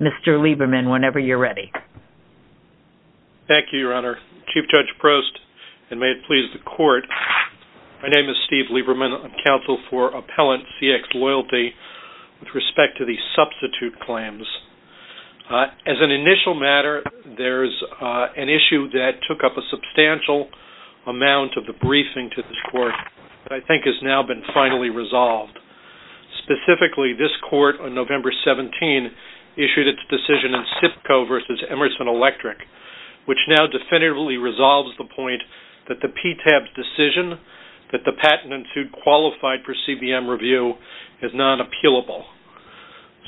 Mr. Lieberman, whenever you're ready. Thank you, Your Honor. Chief Judge Prost, and may it please the Court, my name is Steve Lieberman. I'm counsel for appellant cxLoyalty with respect to the substitute claims. As an initial matter, there's an issue that took up a substantial amount of the briefing to this Court that I think has now been finally resolved. Specifically, this Court on November 17 issued its decision in SIPCO v. Emerson Electric, which now definitively resolves the point that the PTAB's decision that the patent entered qualified for CBM review is not appealable.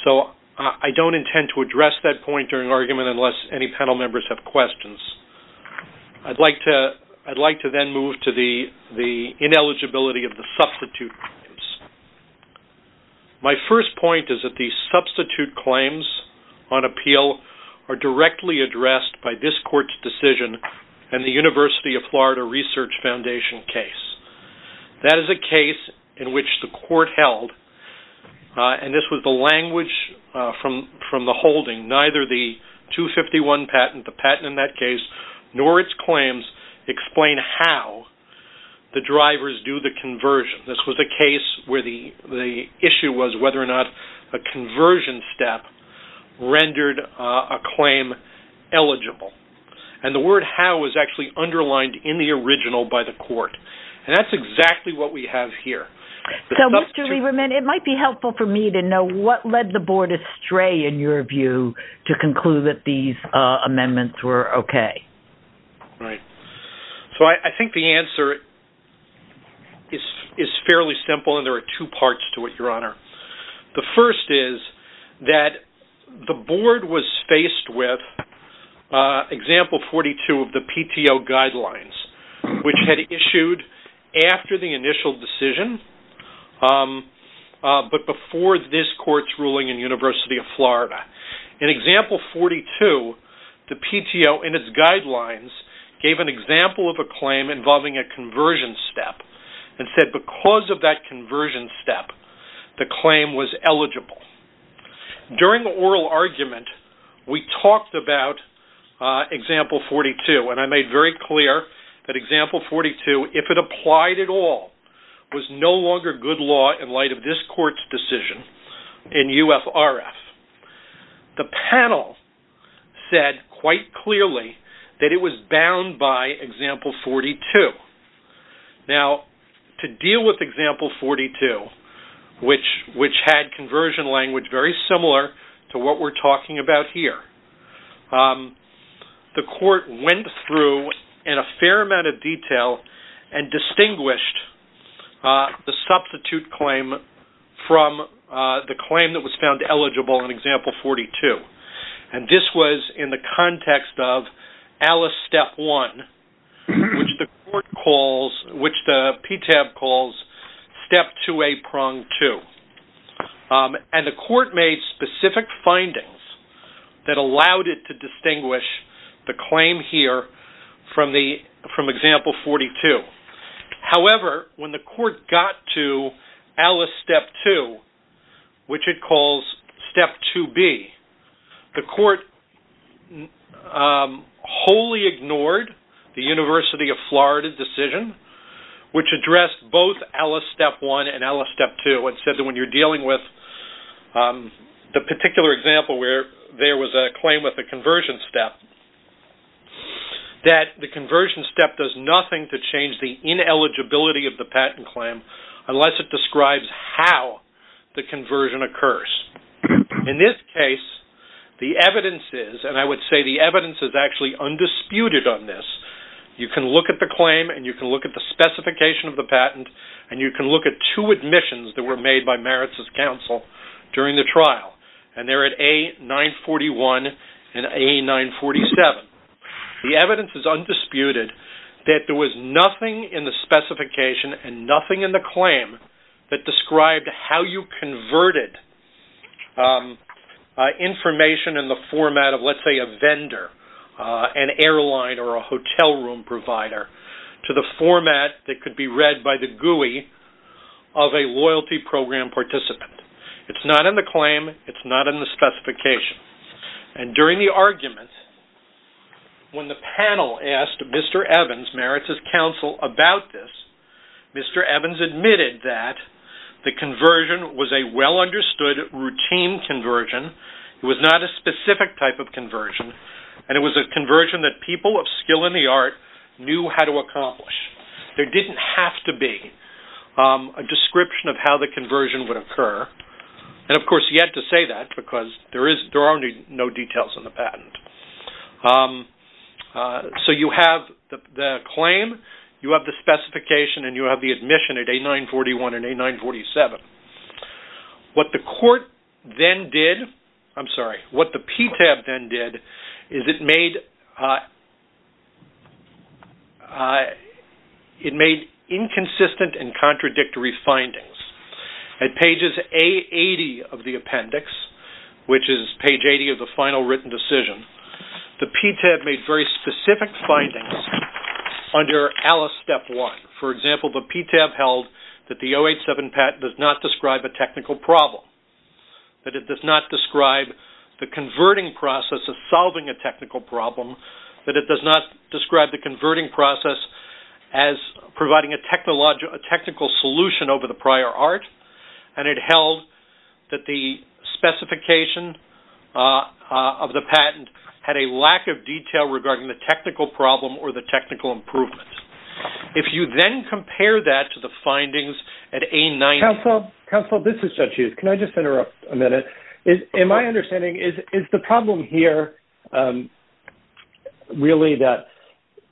So I don't intend to address that point during argument unless any panel members have questions. I'd like to then move to the ineligibility of the substitute claims. My first point is that the substitute claims on appeal are directly addressed by this Court's decision and the University of Florida Research Foundation case. That is a case in which the Court held, and this was the language from the holding, neither the 251 patent, the patent in that case, nor its claims explain how the drivers do the conversion. This was a case where the issue was whether or not a conversion step rendered a claim eligible. And the word how was actually underlined in the original by the Court. And that's exactly what we have here. So Mr. Lieberman, it might be helpful for me to know what led the Board astray in your view to conclude that these amendments were okay. Right. So I think the answer is fairly simple, and there are two parts to it, Your Honor. The first is that the Board was faced with example 42 of the PTO guidelines, which had issued after the initial decision, but before this Court's ruling in University of Florida. In example 42, the PTO, in its guidelines, gave an example of a claim involving a conversion step, and said because of that conversion step, the claim was eligible. During the oral argument, we talked about example 42, and I made very clear that example 42, if it applied at all, was no longer good law in light of this Court's decision in UFRF. The panel said quite clearly that it was bound by example 42. Now, to deal with example 42, which had conversion language very similar to what we're talking about here, the Court went through in a fair amount of detail and distinguished the substitute claim from the claim that was found eligible in example 42. And this was in the context of Alice Step 1, which the PTAB calls Step 2A Prong 2. And the Court made specific findings that allowed it to distinguish the claim here from example 42. However, when the Court got to Alice Step 2, which it calls Step 2B, the Court wholly ignored the University of Florida decision, which addressed both Alice Step 1 and Alice Step 2, and said that when you're dealing with the particular example where there was a claim with a conversion step, that the conversion step does nothing to change the ineligibility of the patent claim unless it describes how the conversion occurs. In this case, the evidence is, and I would say the evidence is actually undisputed on this. You can look at the claim, and you can look at the specification of the patent, and you can look at two admissions that were made by Meritz's counsel during the trial. And they're at A941 and A947. The evidence is undisputed that there was nothing in the specification and nothing in the claim that described how you converted information in the format of, let's say, a vendor, an airline or a hotel room provider, to the format that could be read by the GUI of a loyalty program participant. It's not in the claim. It's not in the specification. And during the argument, when the panel asked Mr. Evans, Meritz's counsel, about this, Mr. Evans admitted that the conversion was a well-understood, routine conversion. It was not a specific type of conversion, and it was a conversion that people of skill in the art knew how to accomplish. There didn't have to be a description of how the conversion would occur. And, of course, he had to say that because there are no details in the patent. So you have the claim, you have the specification, and you have the admission at A941 and A947. What the court then did, I'm sorry, what the PTAB then did is it made inconsistent and contradictory findings. At pages A80 of the appendix, which is page 80 of the final written decision, the PTAB made very specific findings under ALICE Step 1. For example, the PTAB held that the 087 patent does not describe a technical problem, that it does not describe the converting process of solving a technical problem, that it does not describe the converting process as providing a technical solution over the prior art, and it held that the specification of the patent had a lack of detail regarding the technical problem or the technical improvement. If you then compare that to the findings at A9- Counsel, this is Judge Hughes. Can I just interrupt a minute? In my understanding, is the problem here really that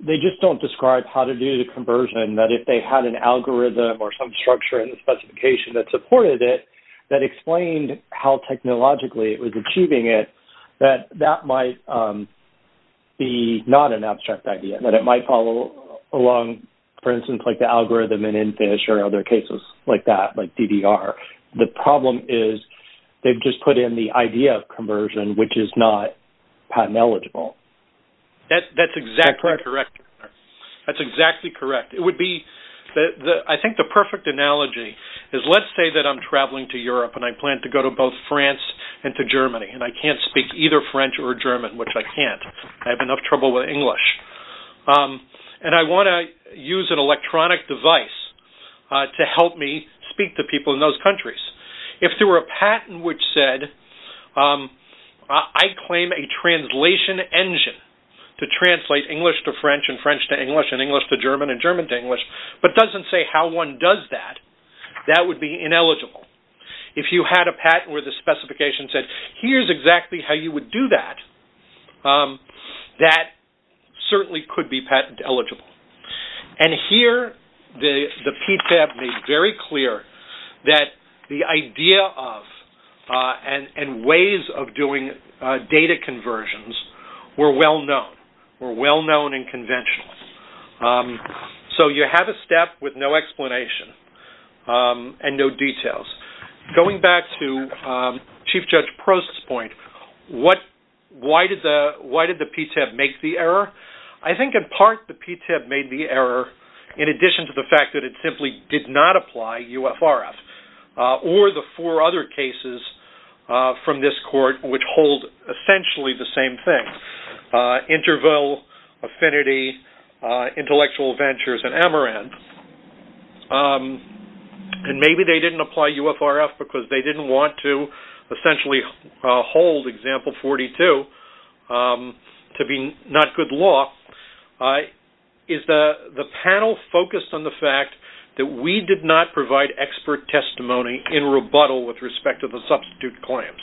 they just don't describe how to do the conversion, that if they had an algorithm or some structure in the specification that supported it, that explained how technologically it was achieving it, that that might be not an abstract idea, that it might follow along, for instance, like the algorithm in Infish or other cases like that, like DDR. The problem is they've just put in the idea of conversion, which is not patent eligible. That's exactly correct. That's exactly correct. I think the perfect analogy is let's say that I'm traveling to Europe and I plan to go to both France and to Germany, and I can't speak either French or German, which I can't. I have enough trouble with English, and I want to use an electronic device to help me speak to people in those countries. If there were a patent which said, I claim a translation engine to translate English to French and French to English and English to German and German to English, but doesn't say how one does that, that would be ineligible. If you had a patent where the specification said, here's exactly how you would do that, that certainly could be patent eligible. And here the PTAB made very clear that the idea of and ways of doing data conversions were well-known, were well-known and conventional. So you have a step with no explanation and no details. Going back to Chief Judge Prost's point, why did the PTAB make the error? I think in part the PTAB made the error in addition to the fact that it simply did not apply UFRF or the four other cases from this court which hold essentially the same thing. Interville, Affinity, Intellectual Ventures, and Amaranth. And maybe they didn't apply UFRF because they didn't want to essentially hold example 42 to be not good law. The panel focused on the fact that we did not provide expert testimony in rebuttal with respect to the substitute claims.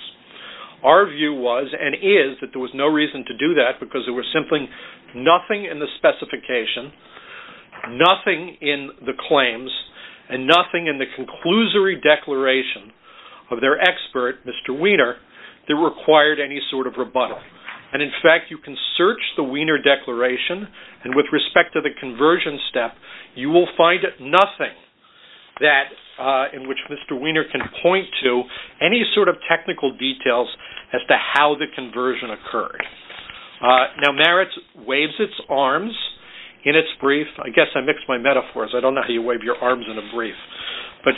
Our view was and is that there was no reason to do that because there was simply nothing in the specification, nothing in the claims, and nothing in the conclusory declaration of their expert, Mr. Wiener, that required any sort of rebuttal. And in fact, you can search the Wiener Declaration and with respect to the conversion step, you will find nothing in which Mr. Wiener can point to any sort of technical details as to how the conversion occurred. Now Meritz waves its arms in its brief. I guess I mixed my metaphors. I don't know how you wave your arms in a brief. But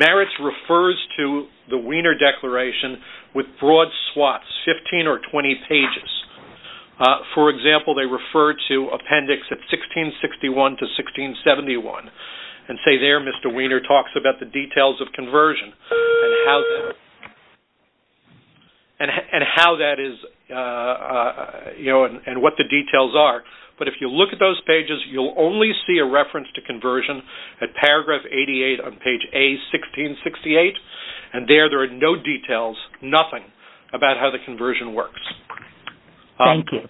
Meritz refers to the Wiener Declaration with broad swaths, 15 or 20 pages. For example, they refer to appendix at 1661 to 1671 and say there Mr. Wiener talks about the details of conversion and how that is and what the details are. But if you look at those pages, you'll only see a reference to conversion at paragraph 88 on page A, 1668. And there, there are no details, nothing about how the conversion works. Thank you.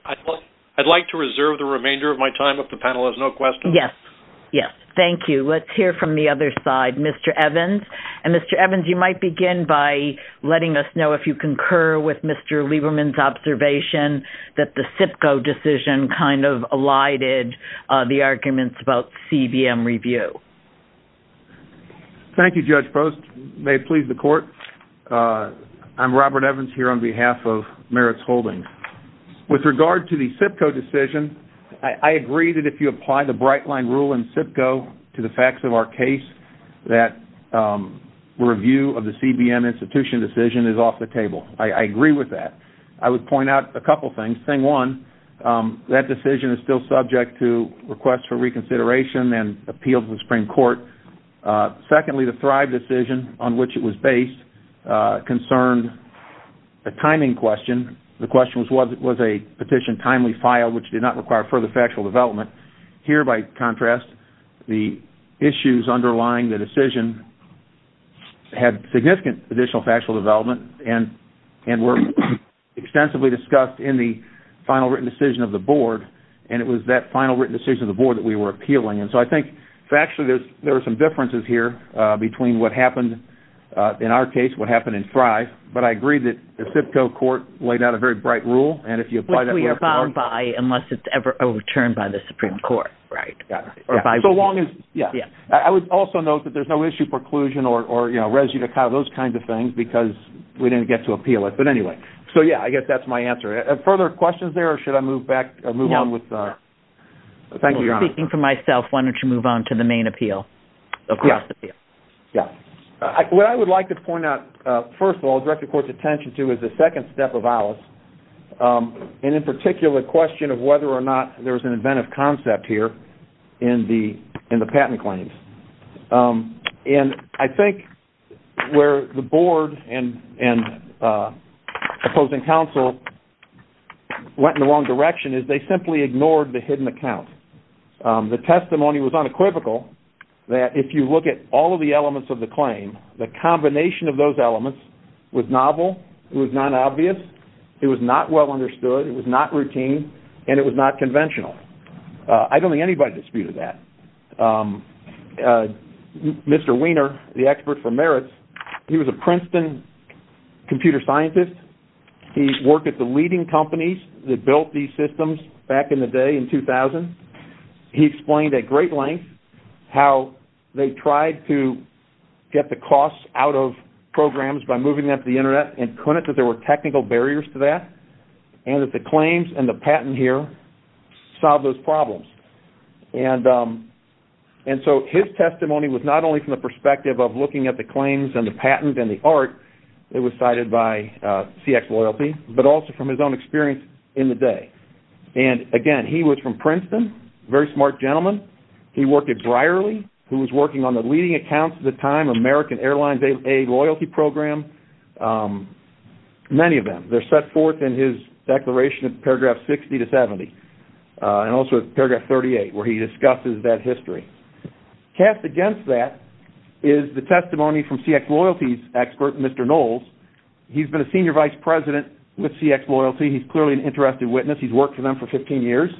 I'd like to reserve the remainder of my time if the panel has no questions. Yes. Yes. Thank you. Let's hear from the other side, Mr. Evans. And Mr. Evans, you might begin by letting us know if you concur with Mr. Lieberman's observation that the CIPCO decision kind of elided the arguments about CBM review. Thank you, Judge Post. May it please the court. I'm Robert Evans here on behalf of Meritz Holdings. With regard to the CIPCO decision, I agree that if you apply the bright line rule in CIPCO to the facts of our case, that review of the CBM institution decision is off the table. I agree with that. I would point out a couple things. One, that decision is still subject to request for reconsideration and appeal to the Supreme Court. Secondly, the Thrive decision on which it was based concerned a timing question. The question was, was a petition timely filed, which did not require further factual development? Here, by contrast, the issues underlying the decision had significant additional factual development and were extensively discussed in the final written decision of the board, and it was that final written decision of the board that we were appealing. And so I think factually there are some differences here between what happened in our case, what happened in Thrive, but I agree that the CIPCO court laid out a very bright rule, and if you apply that rule to the court. Which we abide by unless it's ever overturned by the Supreme Court, right? Yeah. I would also note that there's no issue preclusion or residue, those kinds of things, because we didn't get to appeal it. But anyway, so yeah, I guess that's my answer. Further questions there, or should I move on? I'm speaking for myself. Why don't you move on to the main appeal? What I would like to point out, first of all, the Director of Court's attention to is the second step of Alice, and in particular the question of whether or not there's an inventive concept here in the patent claims. And I think where the board and opposing counsel went in the wrong direction is they simply ignored the hidden account. The testimony was unequivocal that if you look at all of the elements of the claim, the combination of those elements was novel, it was not obvious, it was not well understood, it was not routine, and it was not conventional. I don't think anybody disputed that. Mr. Wiener, the expert for merits, he was a Princeton computer scientist. He worked at the leading companies that built these systems back in the day in 2000. He explained at great length how they tried to get the costs out of programs by moving them to the Internet and couldn't because there were technical barriers to that, and that the claims and the patent here solved those problems. And so his testimony was not only from the perspective of looking at the claims and the patent and the art, it was cited by CX Loyalty, but also from his own experience in the day. And, again, he was from Princeton, very smart gentleman. He worked at Brierley, who was working on the leading accounts at the time, American Airlines A Loyalty Program. Many of them. They're set forth in his declaration in paragraph 60 to 70, and also paragraph 38, where he discusses that history. Cast against that is the testimony from CX Loyalty's expert, Mr. Knowles. He's been a senior vice president with CX Loyalty. He's clearly an interested witness. He's worked for them for 15 years.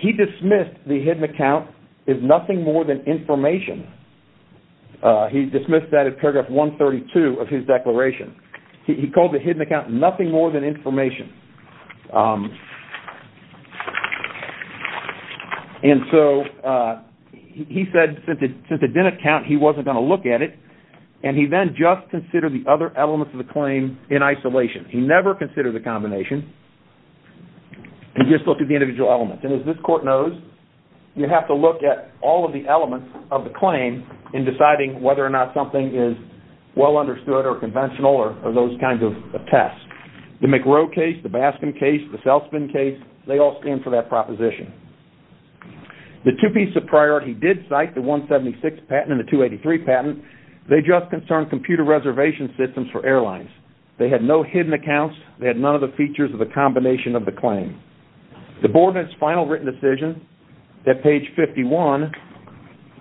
He dismissed the hidden account as nothing more than information. He dismissed that in paragraph 132 of his declaration. He called the hidden account nothing more than information. And so he said since it didn't count, he wasn't going to look at it, and he then just considered the other elements of the claim in isolation. He never considered the combination. He just looked at the individual elements. And as this court knows, you have to look at all of the elements of the claim in deciding whether or not something is well understood or conventional or those kinds of tests. The McRow case, the Baskin case, the Selspin case, they all stand for that proposition. The two pieces of priority he did cite, the 176 patent and the 283 patent, they just concern computer reservation systems for airlines. They had no hidden accounts. They had none of the features of the combination of the claim. The board in its final written decision at page 51,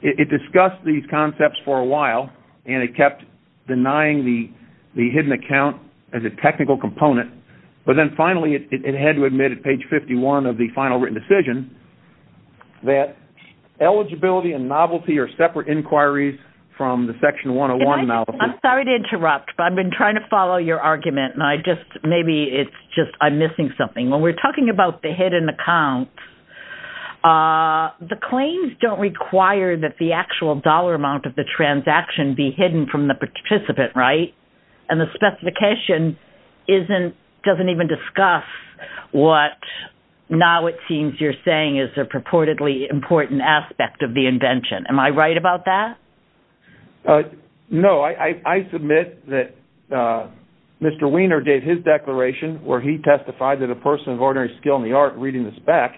it discussed these concepts for a while, and it kept denying the hidden account as a technical component, but then finally it had to admit at page 51 of the final written decision that eligibility and novelty are separate inquiries from the section 101 novelty. I'm sorry to interrupt, but I've been trying to follow your argument, and maybe it's just I'm missing something. When we're talking about the hidden account, the claims don't require that the actual dollar amount of the transaction be hidden from the participant, right? And the specification doesn't even discuss what now it seems you're saying is a purportedly important aspect of the invention. Am I right about that? No, I submit that Mr. Wiener gave his declaration where he testified that a person of ordinary skill in the art reading the spec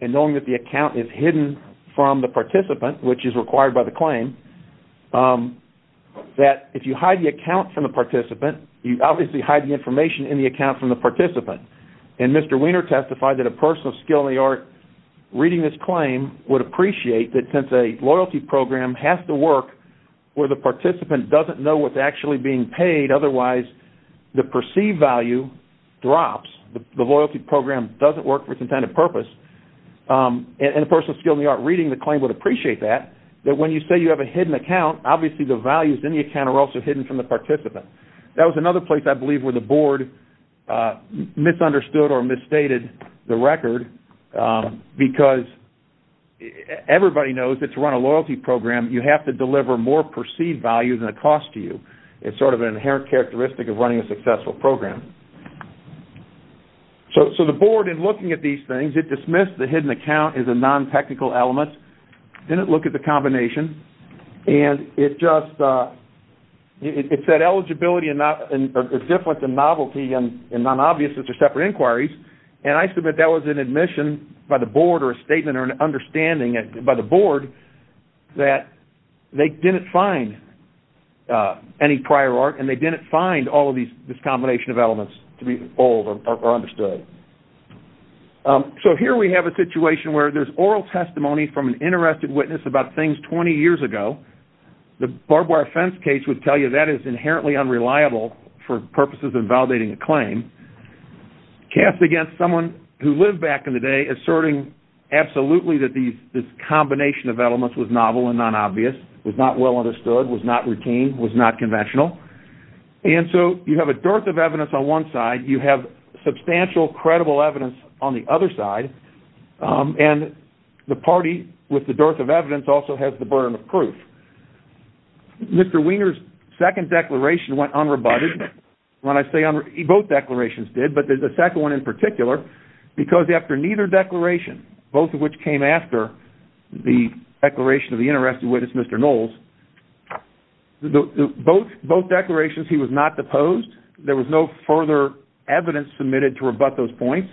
and knowing that the account is hidden from the participant, which is required by the claim, that if you hide the account from the participant, you obviously hide the information in the account from the participant. And Mr. Wiener testified that a person of skill in the art reading this claim would appreciate that since a loyalty program has to work where the participant doesn't know what's actually being paid, otherwise the perceived value drops. The loyalty program doesn't work for its intended purpose. And a person of skill in the art reading the claim would appreciate that, that when you say you have a hidden account, obviously the values in the account are also hidden from the participant. That was another place I believe where the board misunderstood or misstated the record because everybody knows that to run a loyalty program, you have to deliver more perceived value than it costs to you. It's sort of an inherent characteristic of running a successful program. So the board, in looking at these things, it dismissed the hidden account as a non-technical element, didn't look at the combination, and it just said eligibility is different than novelty and non-obviousness are separate inquiries. And I submit that was an admission by the board or a statement or an understanding by the board that they didn't find any prior art and they didn't find all of this combination of elements to be bold or understood. So here we have a situation where there's oral testimony from an interested witness about things 20 years ago. The barbed wire fence case would tell you that is inherently unreliable for purposes of validating a claim. Cast against someone who lived back in the day, asserting absolutely that this combination of elements was novel and non-obvious, was not well understood, was not routine, was not conventional. And so you have a dearth of evidence on one side, you have substantial credible evidence on the other side, and the party with the dearth of evidence also has the burden of proof. Mr. Wiener's second declaration went unrebutted. Both declarations did, but the second one in particular, because after neither declaration, both of which came after the declaration of the interested witness, Mr. Knowles, both declarations he was not deposed, there was no further evidence submitted to rebut those points,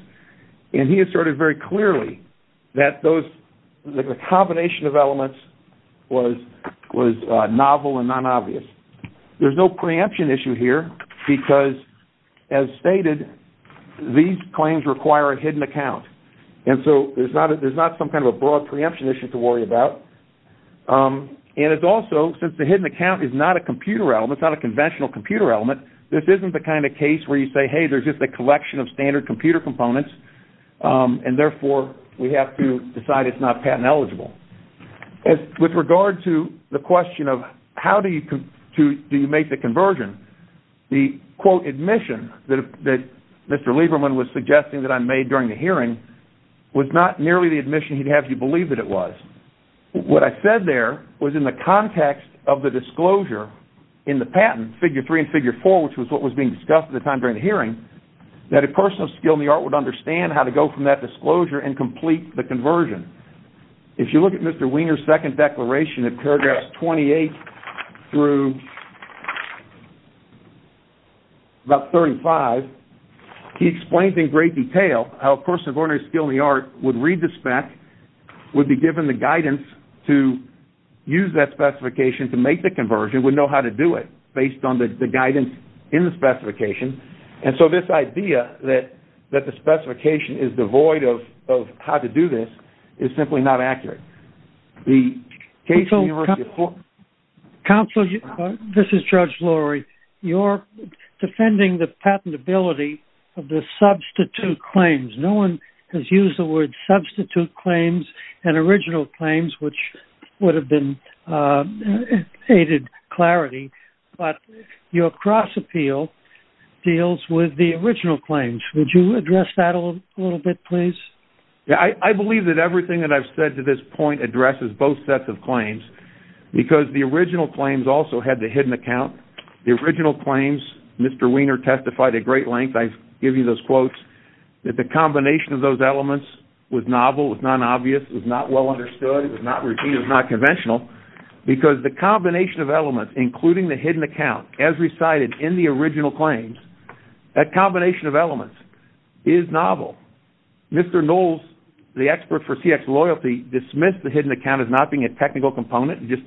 and he asserted very clearly that the combination of elements was novel and non-obvious. There's no preemption issue here because, as stated, these claims require a hidden account, and so there's not some kind of a broad preemption issue to worry about. And it's also, since the hidden account is not a computer element, it's not a conventional computer element, this isn't the kind of case where you say, hey, there's just a collection of standard computer components, and therefore we have to decide it's not patent eligible. With regard to the question of how do you make the conversion, the, quote, admission that Mr. Lieberman was suggesting that I made during the hearing was not nearly the admission he'd have you believe that it was. What I said there was in the context of the disclosure in the patent, figure three and figure four, which was what was being discussed at the time during the hearing, that a person of skill in the art would understand how to go from that disclosure and complete the conversion. If you look at Mr. Wiener's second declaration at paragraphs 28 through about 35, he explains in great detail how a person of ordinary skill in the art would read the spec, would be given the guidance to use that specification to make the conversion, would know how to do it based on the guidance in the specification, and so this idea that the specification is devoid of how to do this is simply not accurate. Counsel, this is Judge Laurie. You're defending the patentability of the substitute claims. No one has used the word substitute claims and original claims, which would have been aided clarity, but your cross appeal deals with the original claims. Would you address that a little bit, please? I believe that everything that I've said to this point addresses both sets of claims because the original claims also had the hidden account. The original claims, Mr. Wiener testified at great length, I give you those quotes, that the combination of those elements was novel, was non-obvious, was not well understood, was not routine, was not conventional because the combination of elements, including the hidden account, as recited in the original claims, that combination of elements is novel. Mr. Knowles, the expert for CX loyalty, dismissed the hidden account as not being a technical component, just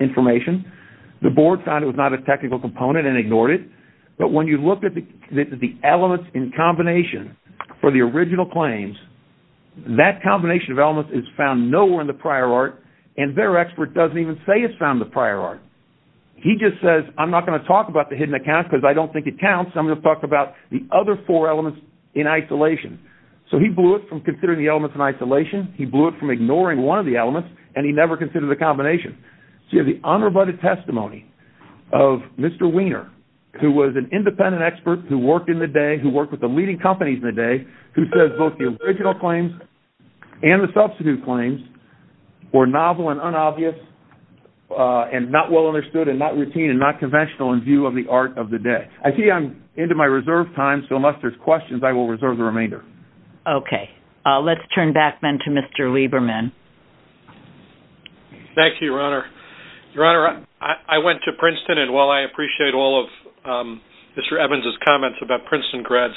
information. The board found it was not a technical component and ignored it, but when you look at the elements in combination for the original claims, that combination of elements is found nowhere in the prior art and their expert doesn't even say it's found in the prior art. He just says, I'm not going to talk about the hidden account because I don't think it counts. I'm going to talk about the other four elements in isolation. So he blew it from considering the elements in isolation, he blew it from ignoring one of the elements, and he never considered the combination. So you have the unrebutted testimony of Mr. Wiener, who was an independent expert who worked in the day, who worked with the leading companies in the day, who says both the original claims and the substitute claims were novel and unobvious and not well understood and not routine and not conventional in view of the art of the day. I see I'm into my reserve time, so unless there's questions, I will reserve the remainder. Okay. Let's turn back then to Mr. Lieberman. Thank you, Your Honor. Your Honor, I went to Princeton, and while I appreciate all of Mr. Evans' comments about Princeton grads,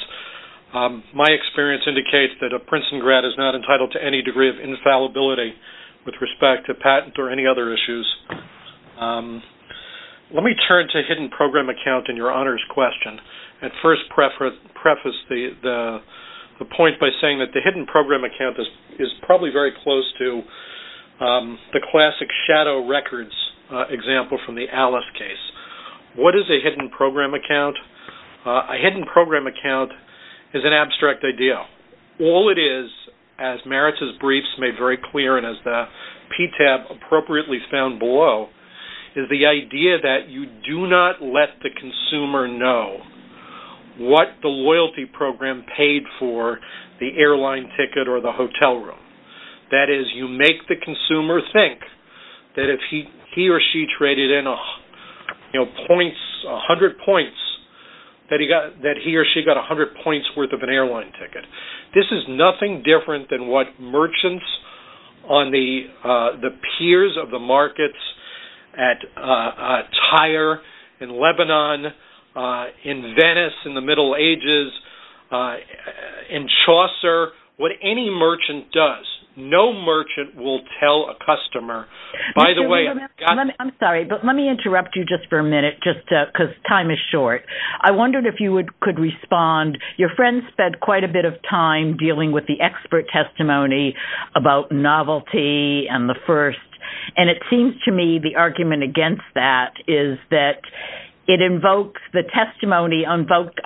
my experience indicates that a Princeton grad is not entitled to any degree of infallibility with respect to patent or any other issues. Let me turn to hidden program account in Your Honor's question and first preface the point by saying that the hidden program account is probably very close to the classic shadow records example from the Alice case. What is a hidden program account? A hidden program account is an abstract idea. All it is, as Maritz's briefs made very clear and as the PTAB appropriately found below, is the idea that you do not let the consumer know what the loyalty program paid for the airline ticket or the hotel room. That is, you make the consumer think that if he or she traded in a hundred points, that he or she got a hundred points worth of an airline ticket. This is nothing different than what merchants on the piers of the markets at Tyre in Lebanon, in Venice in the Middle Ages, in Chaucer, what any merchant does. No merchant will tell a customer, by the way, I'm sorry, but let me interrupt you just for a minute just because time is short. I wondered if you could respond. Your friend spent quite a bit of time dealing with the expert testimony about novelty and the first, and it seems to me the argument against that is that it invokes the testimony, invoked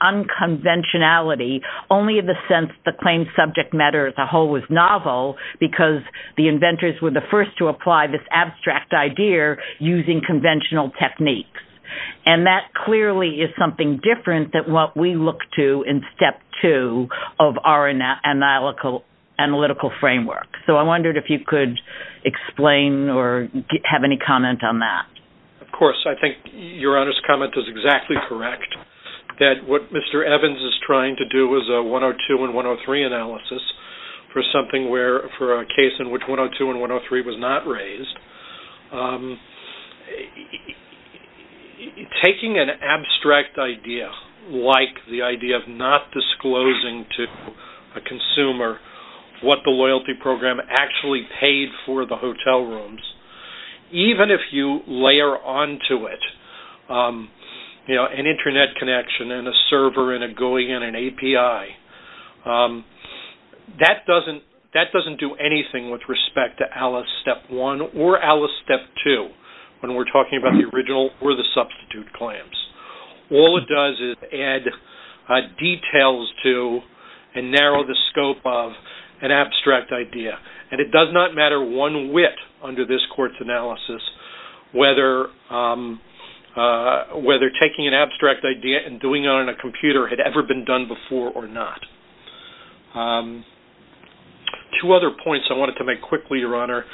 unconventionality only in the sense the claimed subject matter as a whole was novel because the inventors were the first to apply this abstract idea using conventional techniques. And that clearly is something different than what we look to in step two of our analytical framework. So I wondered if you could explain or have any comment on that. Of course, I think Your Honor's comment is exactly correct. That what Mr. Evans is trying to do is a 102 and 103 analysis for a case in which 102 and 103 was not raised. Taking an abstract idea like the idea of not disclosing to a consumer what the loyalty program actually paid for the hotel rooms, even if you layer onto it an Internet connection and a server and a GUI and an API, that doesn't do anything with respect to Alice step one or Alice step two when we're talking about the original or the substitute claims. All it does is add details to and narrow the scope of an abstract idea. And it does not matter one whit under this court's analysis whether taking an abstract idea and doing it on a computer had ever been done before or not. Two other points I wanted to make quickly, Your Honor.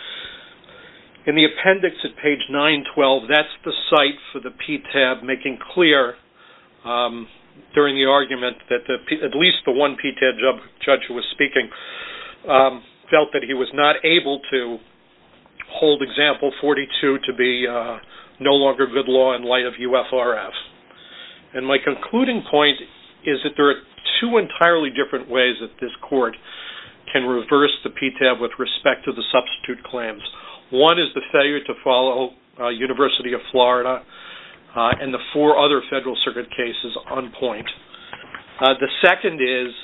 In the appendix at page 912, that's the site for the PTAB making clear during the argument that at least the one PTAB judge who was speaking felt that he was not able to hold example 42 to be no longer good law in light of UFRF. And my concluding point is that there are two entirely different ways that this court can reverse the PTAB with respect to the substitute claims. One is the failure to follow University of Florida and the four other federal circuit cases on point. The second is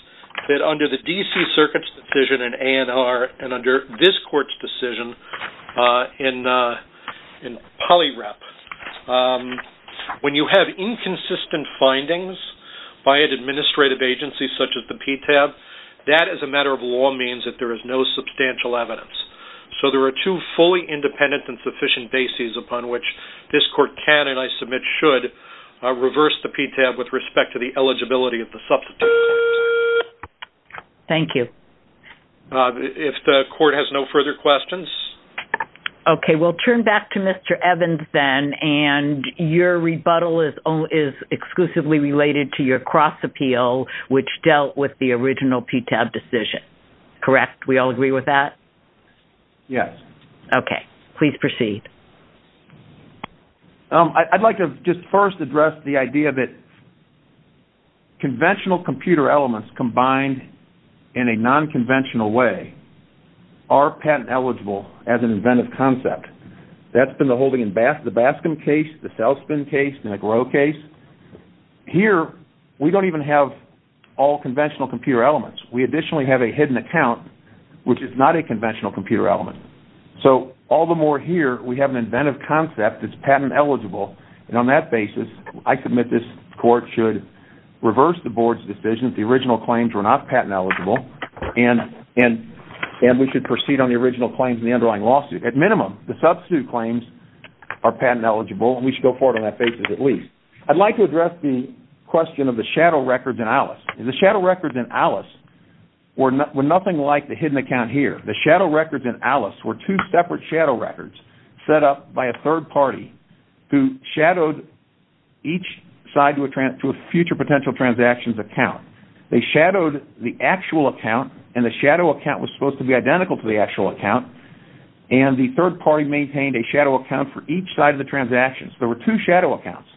that under the D.C. circuit's decision in A&R and under this court's decision in poly rep, when you have inconsistent findings by an administrative agency such as the PTAB, that as a matter of law means that there is no substantial evidence. So there are two fully independent and sufficient bases upon which this court can and I submit should reverse the PTAB with respect to the eligibility of the substitute. Thank you. If the court has no further questions. Okay, we'll turn back to Mr. Evans then and your rebuttal is exclusively related to your cross appeal which dealt with the original PTAB decision. Correct, we all agree with that? Yes. Okay, please proceed. I'd like to just first address the idea that conventional computer elements combined in a non-conventional way are patent eligible as an inventive concept. That's been the holding in the Baskin case, the South Bend case, the McGraw case. Here we don't even have all conventional computer elements. We additionally have a hidden account which is not a conventional computer element. So all the more here we have an inventive concept that's patent eligible and on that basis I submit this court should reverse the board's decision. The original claims were not patent eligible and we should proceed on the original claims in the underlying lawsuit. At minimum the substitute claims are patent eligible and we should go forward on that basis at least. I'd like to address the question of the shadow records in Alice. The shadow records in Alice were nothing like the hidden account here. The shadow records in Alice were two separate shadow records set up by a third party who shadowed each side to a future potential transactions account. They shadowed the actual account and the shadow account was supposed to be identical to the actual account and the third party maintained a shadow account for each side of the transactions. There were two shadow accounts.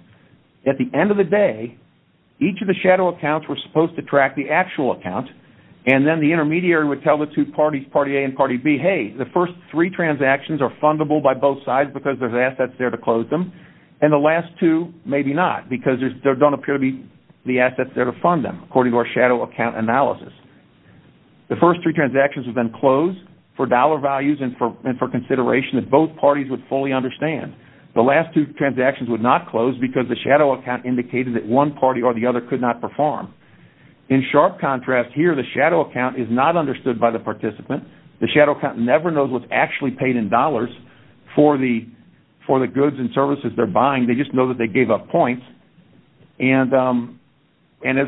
At the end of the day, each of the shadow accounts were supposed to track the actual account and then the intermediary would tell the two parties, party A and party B, hey, the first three transactions are fundable by both sides because there's assets there to close them and the last two maybe not because there don't appear to be the assets there to fund them according to our shadow account analysis. The first three transactions have been closed for dollar values and for consideration that both parties would fully understand. The last two transactions would not close because the shadow account indicated that one party or the other could not perform. In sharp contrast here, the shadow account is not understood by the participant. The shadow account never knows what's actually paid in dollars for the goods and services they're buying. They just know that they gave up points. As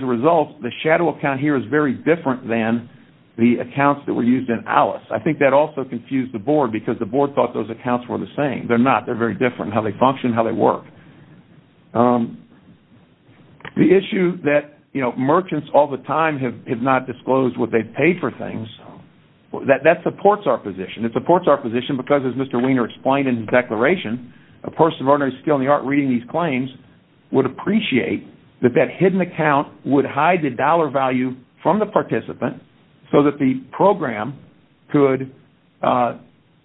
a result, the shadow account here is very different than the accounts that were used in Alice. I think that also confused the board because the board thought those accounts were the same. They're not. They're very different in how they function, how they work. The issue that merchants all the time have not disclosed what they've paid for things, that supports our position. It supports our position because as Mr. Wiener explained in his declaration, a person of ordinary skill in the art reading these claims would appreciate that that hidden account would hide the dollar value from the participant so that the program could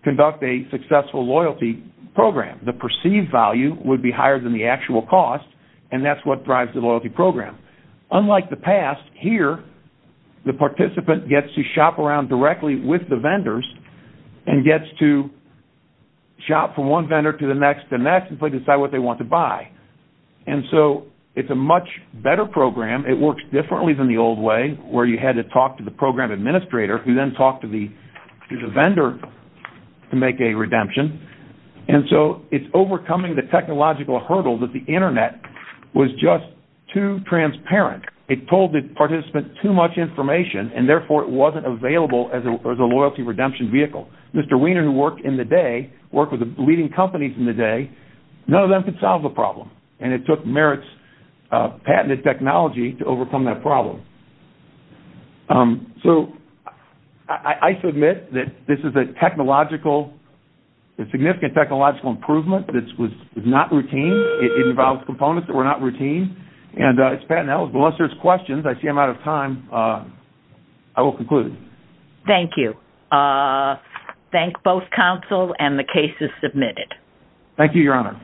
conduct a successful loyalty program. The perceived value would be higher than the actual cost, and that's what drives the loyalty program. Unlike the past, here the participant gets to shop around directly with the vendors and gets to shop from one vendor to the next to the next and decide what they want to buy. It's a much better program. It works differently than the old way where you had to talk to the program administrator who then talked to the vendor to make a redemption. It's overcoming the technological hurdle that the Internet was just too transparent. It told the participant too much information, and therefore it wasn't available as a loyalty redemption vehicle. Mr. Wiener who worked in the day, worked with the leading companies in the day, none of them could solve the problem. It took Merit's patented technology to overcome that problem. So I submit that this is a significant technological improvement. This was not routine. It involved components that were not routine. Unless there's questions, I see I'm out of time, I will conclude. Thank you. Thank both counsel and the cases submitted. Thank you, Your Honor.